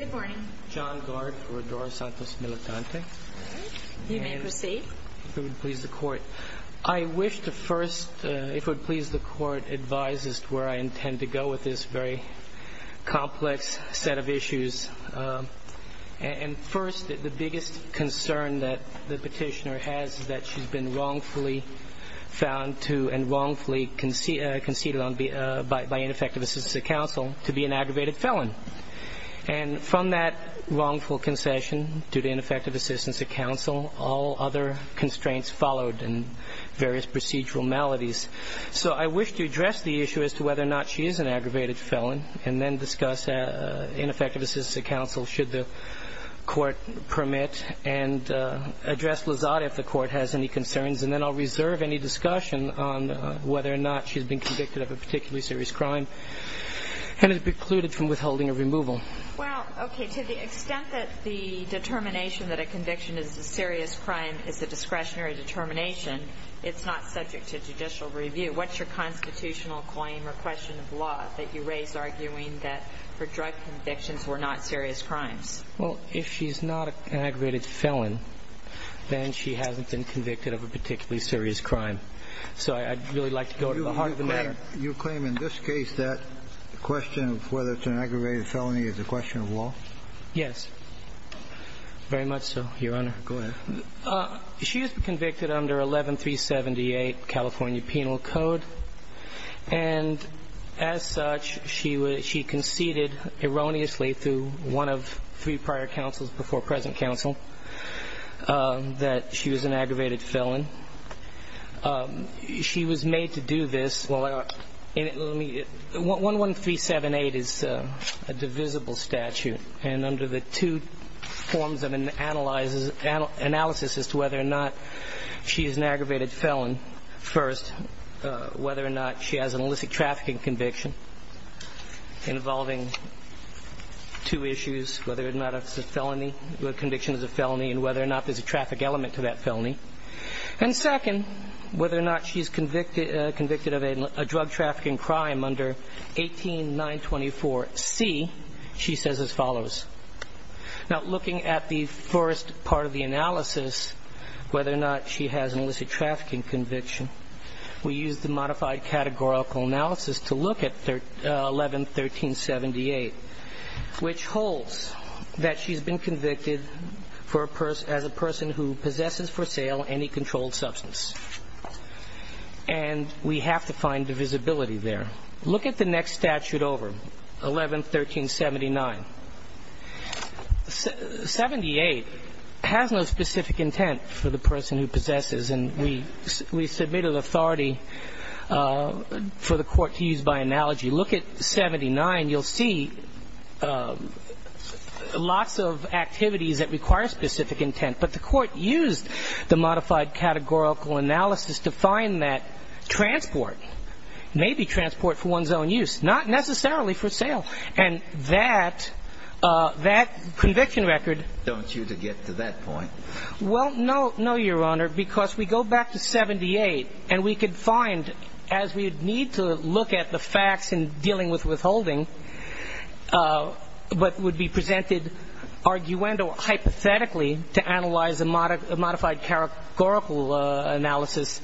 I wish to first, if it would please the court, advise as to where I intend to go with this very complex set of issues. And first, the biggest concern that the petitioner has is that she's been wrongfully found to, and wrongfully conceded by ineffective assistance to counsel, to be an aggravated felon. And from that wrongful concession, due to ineffective assistance to counsel, all other constraints followed, and various procedural maladies. So I wish to address the issue as to whether or not she is an aggravated felon, and then discuss ineffective assistance to counsel, should the court permit, and address Lozada if the court has any concerns, and then I'll reserve any discussion on whether or not she's been a serious crime, and is precluded from withholding a removal. Well, okay, to the extent that the determination that a conviction is a serious crime is a discretionary determination, it's not subject to judicial review. What's your constitutional claim or question of law that you raise, arguing that her drug convictions were not serious crimes? Well, if she's not an aggravated felon, then she hasn't been convicted of a particularly serious crime. So I'd really like to go to the heart of the matter. You claim in this case that the question of whether it's an aggravated felony is a question of law? Yes. Very much so, Your Honor. Go ahead. She has been convicted under 11378 California Penal Code. And as such, she conceded erroneously through one of three prior counsels before present counsel that she was an aggravated felon. She was made to do this. 11378 is a divisible statute. And under the two forms of analysis as to whether or not she is an aggravated felon, first, whether or not she has an illicit trafficking conviction involving two issues, whether or not it's a felony, conviction is a felony, and whether or not there's a traffic element to that felony. And second, whether or not she's convicted of a drug trafficking crime under 18.924C, she says as follows. Now, looking at the first part of the analysis, whether or not she has an illicit trafficking conviction, we use the modified categorical analysis to look at 111378, which holds that she's been convicted for a person as a person who possesses for sale any controlled substance. And we have to find divisibility there. Look at the next statute over, 111379. 78 has no specific intent for the person who Look at 79. You'll see lots of activities that require specific intent. But the Court used the modified categorical analysis to find that transport, maybe transport for one's own use, not necessarily for sale. And that conviction record Don't you to get to that point? Well, no, no, Your Honor, because we go back to 78, and we could find, as we would need to look at the facts in dealing with withholding, what would be presented arguendo hypothetically to analyze a modified categorical analysis,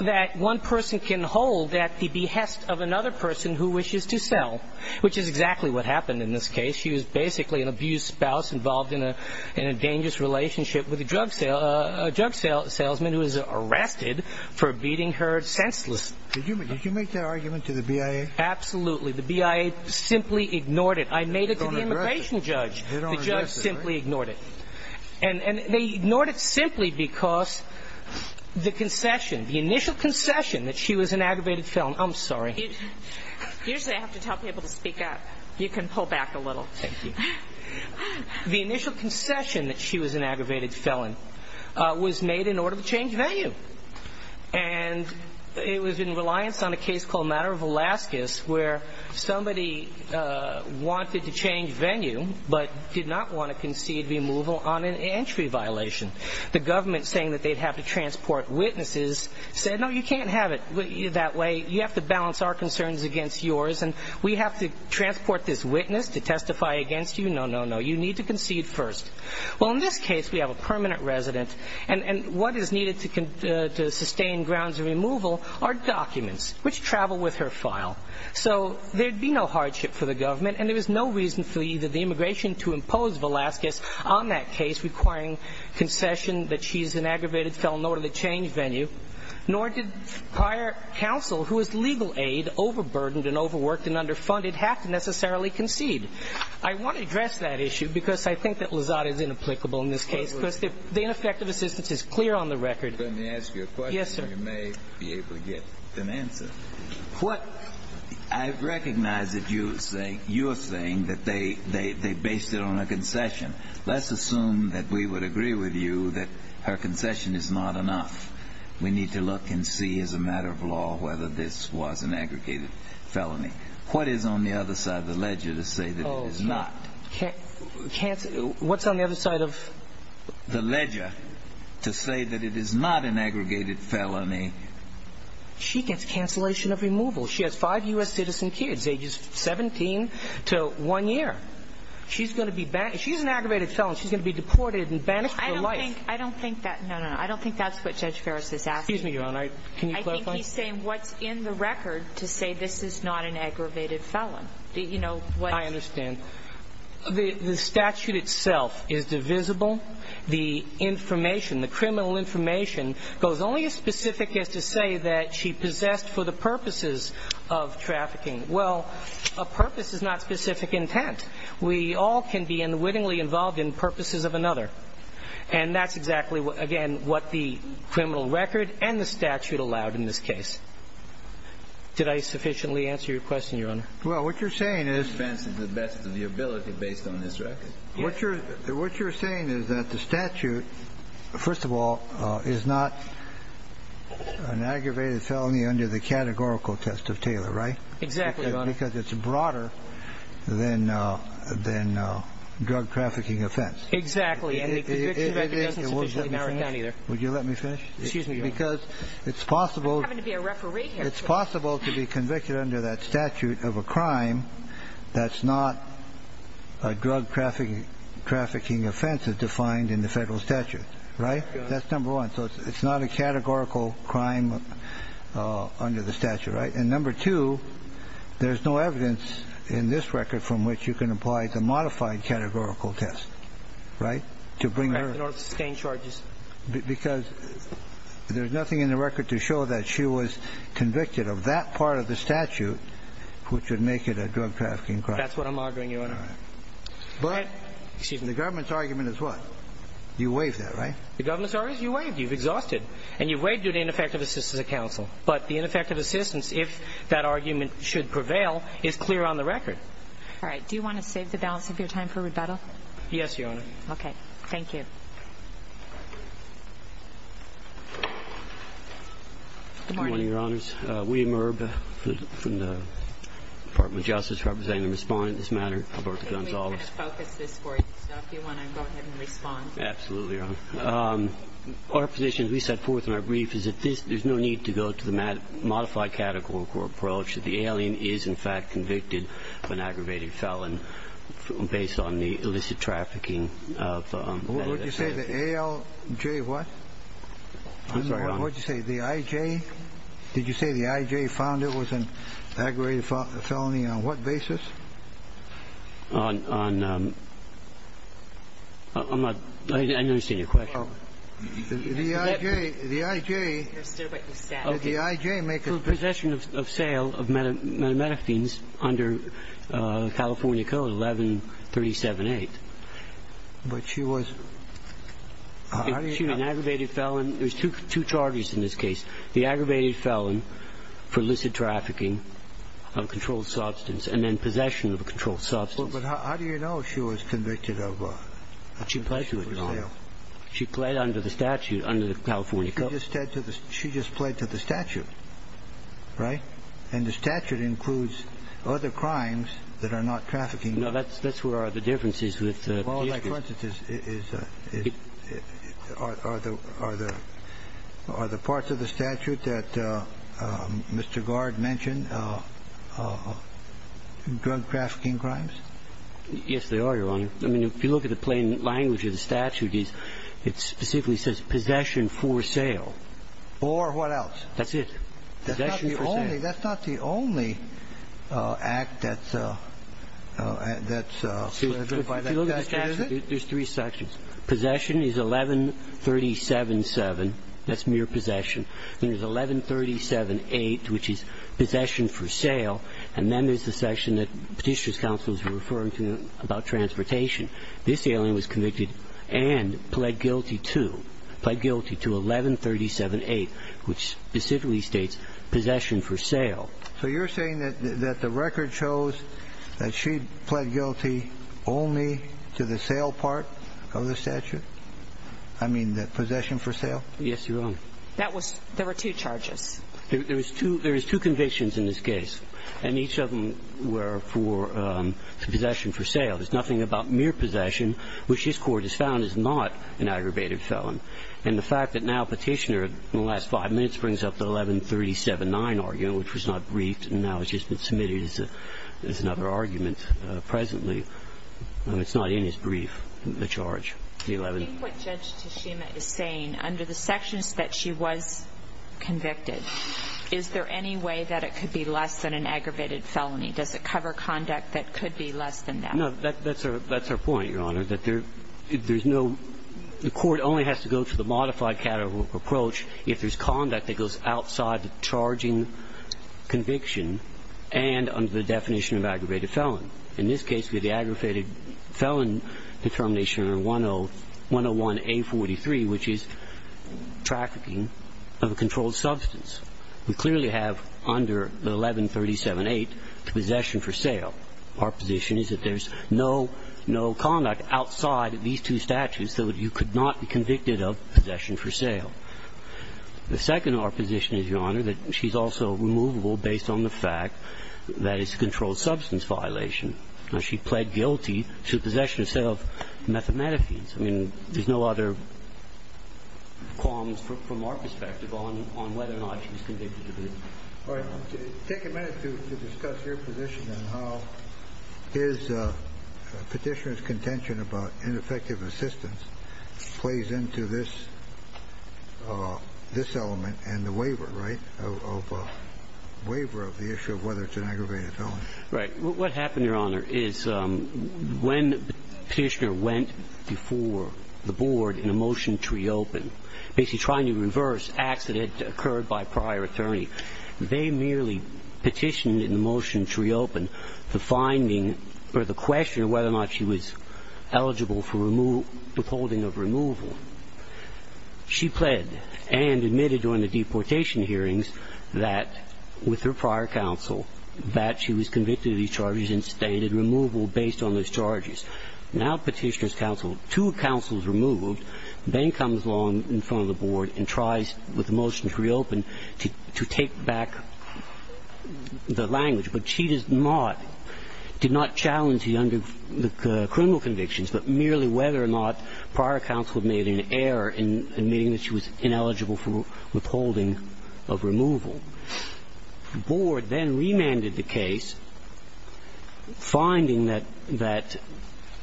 that one person can hold at the behest of another person who wishes to sell, which is exactly what happened in this case. She was basically an abused spouse involved in a dangerous relationship with a drug salesman who was Did you make that argument to the BIA? Absolutely. The BIA simply ignored it. I made it to the immigration judge. The judge simply ignored it. And they ignored it simply because the concession, the initial concession that she was an aggravated felon. I'm sorry. Usually I have to tell people to speak up. You can pull back a little. Thank you. The initial concession that she was an aggravated felon was made in order to change venue. And it was in reliance on a case called Matter of Alaskas, where somebody wanted to change venue, but did not want to concede removal on an entry violation. The government saying that they'd have to transport witnesses said, no, you can't have it that way. You have to balance our concerns against yours. And we have to transport this witness to testify against you. No, no, no. You need to concede first. Well, in this case, we have a permanent resident. And what is needed to sustain grounds of removal are documents which travel with her file. So there'd be no hardship for the government. And there is no reason for either the immigration to impose Velasquez on that case requiring concession that she's an aggravated felon or to change venue. Nor did prior counsel, who was legal aid, overburdened and overworked and underfunded, have to necessarily concede. I want to address that issue, because I think that Lazada is inapplicable in this case. Because the ineffective assistance is clear on the record. Let me ask you a question. Yes, sir. You may be able to get an answer. I recognize that you are saying that they based it on a concession. Let's assume that we would agree with you that her concession is not enough. We need to look and see as a matter of law whether this was an aggregated felony. What is on the other side of the ledger to say that it is not? What's on the other side of the ledger to say that it is not an aggregated felony? She gets cancellation of removal. She has five U.S. citizen kids, ages 17 to one year. She's going to be banned. She's an aggravated felon. She's going to be deported and banished for life. I don't think that's what Judge Ferris is asking. Excuse me, Your Honor. Can you clarify? He's saying what's in the record to say this is not an aggravated felon. I understand. The statute itself is divisible. The information, the criminal information goes only as specific as to say that she possessed for the purposes of trafficking. Well, a purpose is not specific intent. We all can be unwittingly involved in purposes of another. And that's exactly, again, what the criminal record and the statute allowed in this case. Did I sufficiently answer your question, Your Honor? Well, what you're saying is... The defense is the best of your ability based on this record. What you're saying is that the statute, first of all, is not an aggravated felony under the categorical test of Taylor, right? Exactly, Your Honor. Because it's broader than drug trafficking offense. Exactly. And the conviction record doesn't sufficiently narrow it down either. Would you let me finish? Excuse me, Your Honor. Because it's possible... I'm having to be a referee here. It's possible to be convicted under that statute of a crime that's not a drug trafficking offense as defined in the Federal statute, right? That's number one. So it's not a categorical crime under the statute, right? And number two, there's no evidence in this record from which you can apply the modified categorical test, right, to bring her... Correct in order to sustain charges. Because there's nothing in the record to show that she was convicted of that part of the statute which would make it a drug trafficking crime. That's what I'm arguing, Your Honor. But the government's argument is what? You waived that, right? The government's argument is you waived. You've exhausted. And you waived due to ineffective assistance of counsel. But the ineffective assistance, if that argument should prevail, is clear on the record. All right. Do you want to save the balance of your time for rebuttal? Yes, Your Honor. Okay. Thank you. Good morning, Your Honors. Good morning, Your Honors. William Irb from the Department of Justice, representing the respondent in this matter, Alberto Gonzalez. Can we kind of focus this for you? So if you want to go ahead and respond. Absolutely, Your Honor. Our position, as we set forth in our brief, is that there's no need to go to the modified categorical approach, that the alien is, in fact, convicted of an aggravated felon based on the illicit trafficking of... What did you say? The A-L-J what? I'm sorry. What did you say? The I-J? Did you say the I-J found it was an aggravated felony on what basis? On... I'm not... I didn't understand your question. The I-J... The I-J... I understood what you said. Did the I-J make a... Possession of sale of methamphetines under California Code 11378. But she was... How do you... An aggravated felon... There's two charges in this case. The aggravated felon for illicit trafficking of a controlled substance and then possession of a controlled substance. But how do you know she was convicted of... She pled to it, Your Honor. She pled under the statute, under the California Code. She just pled to the statute, right? And the statute includes other crimes that are not trafficking. No, that's where the difference is with... Well, like, for instance, is... Are the parts of the statute that Mr. Gard mentioned drug trafficking crimes? Yes, they are, Your Honor. I mean, if you look at the plain language of the statute, it specifically says possession for sale. Or what else? That's it. Possession for sale. That's not the only act that's... If you look at the statute, there's three sections. Possession is 11377. That's mere possession. Then there's 11378, which is possession for sale. And then there's the section that Petitioner's Counsel is referring to about transportation. This alien was convicted and pled guilty to, pled guilty to 11378, which specifically states possession for sale. So you're saying that the record shows that she pled guilty only to the sale part of the statute? I mean, the possession for sale? Yes, Your Honor. There were two charges. There is two convictions in this case, and each of them were for possession for sale. There's nothing about mere possession, which this Court has found is not an aggravated felon. And the fact that now Petitioner, in the last five minutes, brings up the 11379 argument, which was not briefed and now has just been submitted as another argument presently, it's not in his brief, the charge, the 11. In what Judge Toshima is saying, under the sections that she was convicted, is there any way that it could be less than an aggravated felony? Does it cover conduct that could be less than that? No. That's our point, Your Honor, that there's no – the Court only has to go to the modified categorical approach if there's conduct that goes outside the charging conviction and under the definition of aggravated felon. In this case, we have the aggravated felon determination on 101A43, which is trafficking of a controlled substance. We clearly have under the 11378 the possession for sale. Our position is that there's no conduct outside of these two statutes, so you could not be convicted of possession for sale. The second of our position is, Your Honor, that she's also removable based on the fact that it's a controlled substance violation. Now, she pled guilty to possession of a set of methamphetamines. I mean, there's no other qualms from our perspective on whether or not she was convicted of it. All right. Take a minute to discuss your position on how his petitioner's contention about ineffective assistance plays into this element and the waiver, right, of a waiver of the issue of whether it's an aggravated felon. Right. What happened, Your Honor, is when the petitioner went before the board in a motion to reopen, basically trying to reverse acts that had occurred by prior attorney, they merely petitioned in the motion to reopen the finding or the question of whether or not she was eligible for withholding of removal. She pled and admitted during the deportation hearings that with her prior counsel that she was convicted of these charges and stated removal based on those charges. Now Petitioner's counsel, two counsels removed, then comes along in front of the board and tries with the motion to reopen to take back the language. But she does not, did not challenge the criminal convictions, but merely whether or not prior counsel made an error in admitting that she was ineligible for withholding of removal. The board then remanded the case, finding that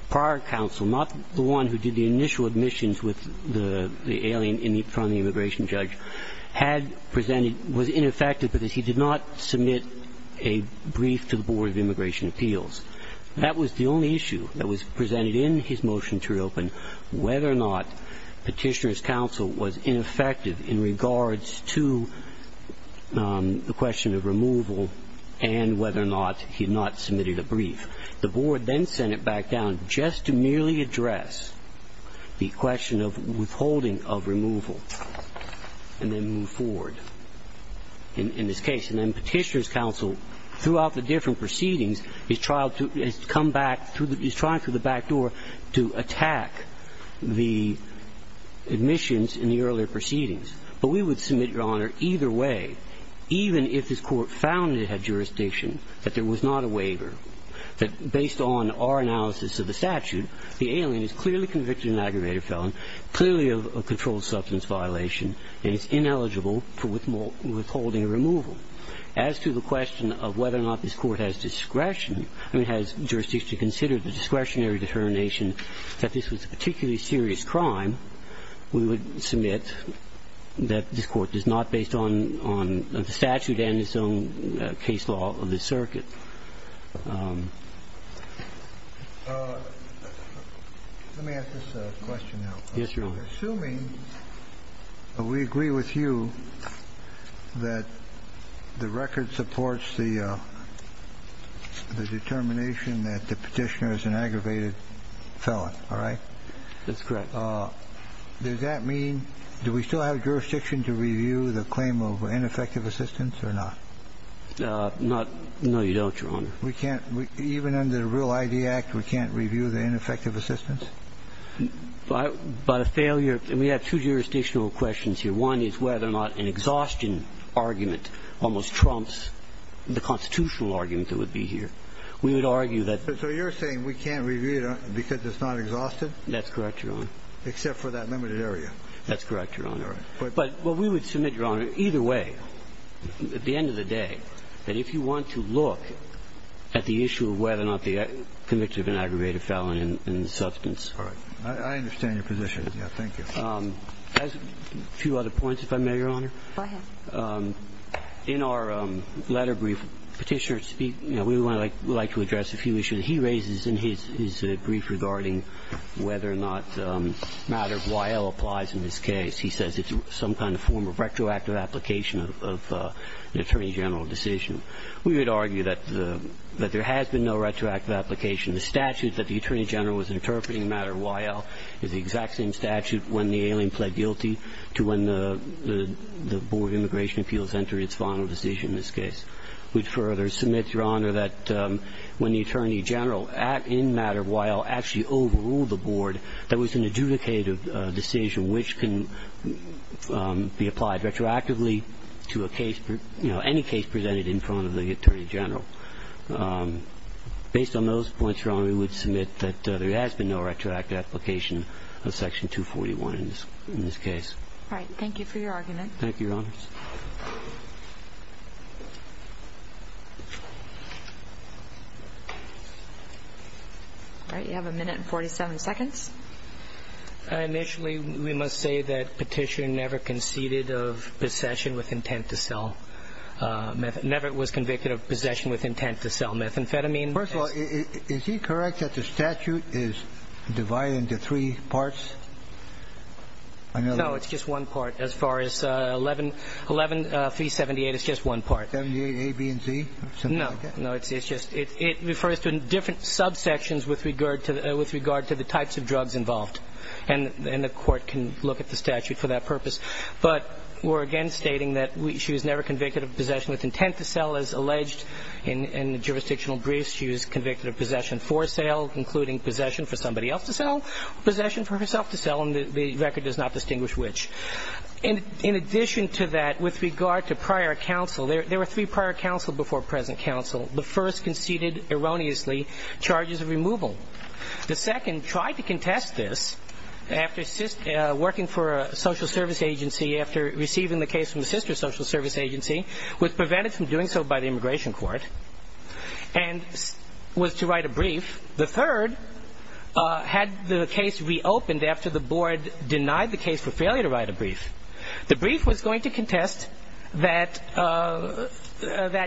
prior counsel, not the one who did the initial admissions with the alien in front of the immigration judge, had presented was ineffective because he did not submit a brief to the Board of Immigration Appeals. That was the only issue that was presented in his motion to reopen, whether or not the question of removal and whether or not he had not submitted a brief. The board then sent it back down just to merely address the question of withholding of removal and then move forward in this case. And then Petitioner's counsel, throughout the different proceedings, has come back through the back door to attack the admissions in the earlier proceedings. But we would submit, Your Honor, either way, even if this Court found it had jurisdiction that there was not a waiver, that based on our analysis of the statute, the alien is clearly convicted of an aggravated felon, clearly of a controlled substance violation, and is ineligible for withholding a removal. As to the question of whether or not this Court has discretion, I mean, has jurisdiction to consider the discretionary determination that this was a particularly serious crime, we would submit that this Court does not, based on the statute and its own case law of the circuit. Let me ask this question now. Yes, Your Honor. Assuming we agree with you that the record supports the determination that the Petitioner is an aggravated felon, all right? That's correct. Does that mean do we still have jurisdiction to review the claim of ineffective assistance or not? No, you don't, Your Honor. We can't. Even under the Real ID Act, we can't review the ineffective assistance? By a failure. We have two jurisdictional questions here. One is whether or not an exhaustion argument almost trumps the constitutional argument that would be here. We would argue that. That's correct, Your Honor. Except for that limited area. That's correct, Your Honor. All right. But we would submit, Your Honor, either way, at the end of the day, that if you want to look at the issue of whether or not the convict is an aggravated felon in substance. All right. I understand your position. Thank you. A few other points, if I may, Your Honor. Go ahead. In our letter brief, Petitioner speaks, you know, we would like to address a few issues. He raises in his brief regarding whether or not matter YL applies in this case. He says it's some kind of form of retroactive application of an attorney general decision. We would argue that there has been no retroactive application. The statute that the attorney general was interpreting in matter YL is the exact same statute when the alien pled guilty to when the Board of Immigration Appeals entered its final decision in this case. We'd further submit, Your Honor, that when the attorney general in matter YL actually overruled the Board, there was an adjudicated decision which can be applied retroactively to a case, you know, any case presented in front of the attorney general. Based on those points, Your Honor, we would submit that there has been no retroactive application of Section 241 in this case. All right. Thank you for your argument. Thank you, Your Honors. All right. You have a minute and 47 seconds. Initially, we must say that Petition never conceded of possession with intent to sell. Never was convicted of possession with intent to sell methamphetamine. First of all, is he correct that the statute is divided into three parts? No, it's just one part. As far as 11378, it's just one part. 78A, B, and C? No. No, it's just it refers to different subsections with regard to the types of drugs involved. And the court can look at the statute for that purpose. But we're, again, stating that she was never convicted of possession with intent to sell. As alleged in the jurisdictional briefs, she was convicted of possession for sale, including possession for somebody else to sell, possession for herself to sell, and the record does not distinguish which. In addition to that, with regard to prior counsel, there were three prior counsel before present counsel. The first conceded erroneously charges of removal. The second tried to contest this after working for a social service agency, after receiving the case from the sister social service agency, was prevented from doing so by the immigration court, and was to write a brief. The third had the case reopened after the board denied the case for failure to write a brief. The brief was going to contest that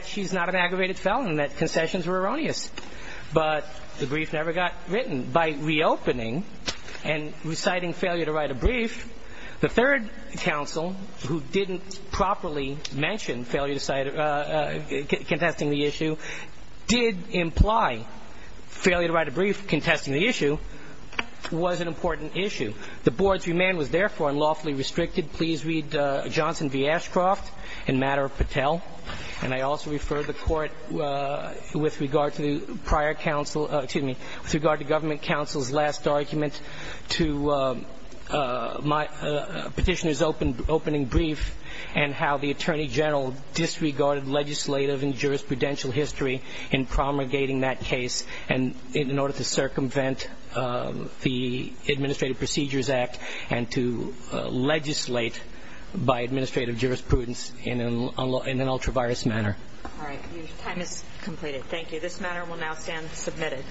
she's not an aggravated felon and that concessions were erroneous. But the brief never got written. By reopening and reciting failure to write a brief, the third counsel, who didn't contest the issue, was an important issue. The board's remand was, therefore, unlawfully restricted. Please read Johnson v. Ashcroft in Matter of Patel. And I also refer the court with regard to the prior counsel, excuse me, with regard to government counsel's last argument to my petitioner's opening brief and how the attorney general disregarded legislative and jurisprudential history in promulgating that case. And in order to circumvent the Administrative Procedures Act and to legislate by administrative jurisprudence in an ultra-virus manner. All right. Your time is completed. Thank you. This matter will now stand submitted.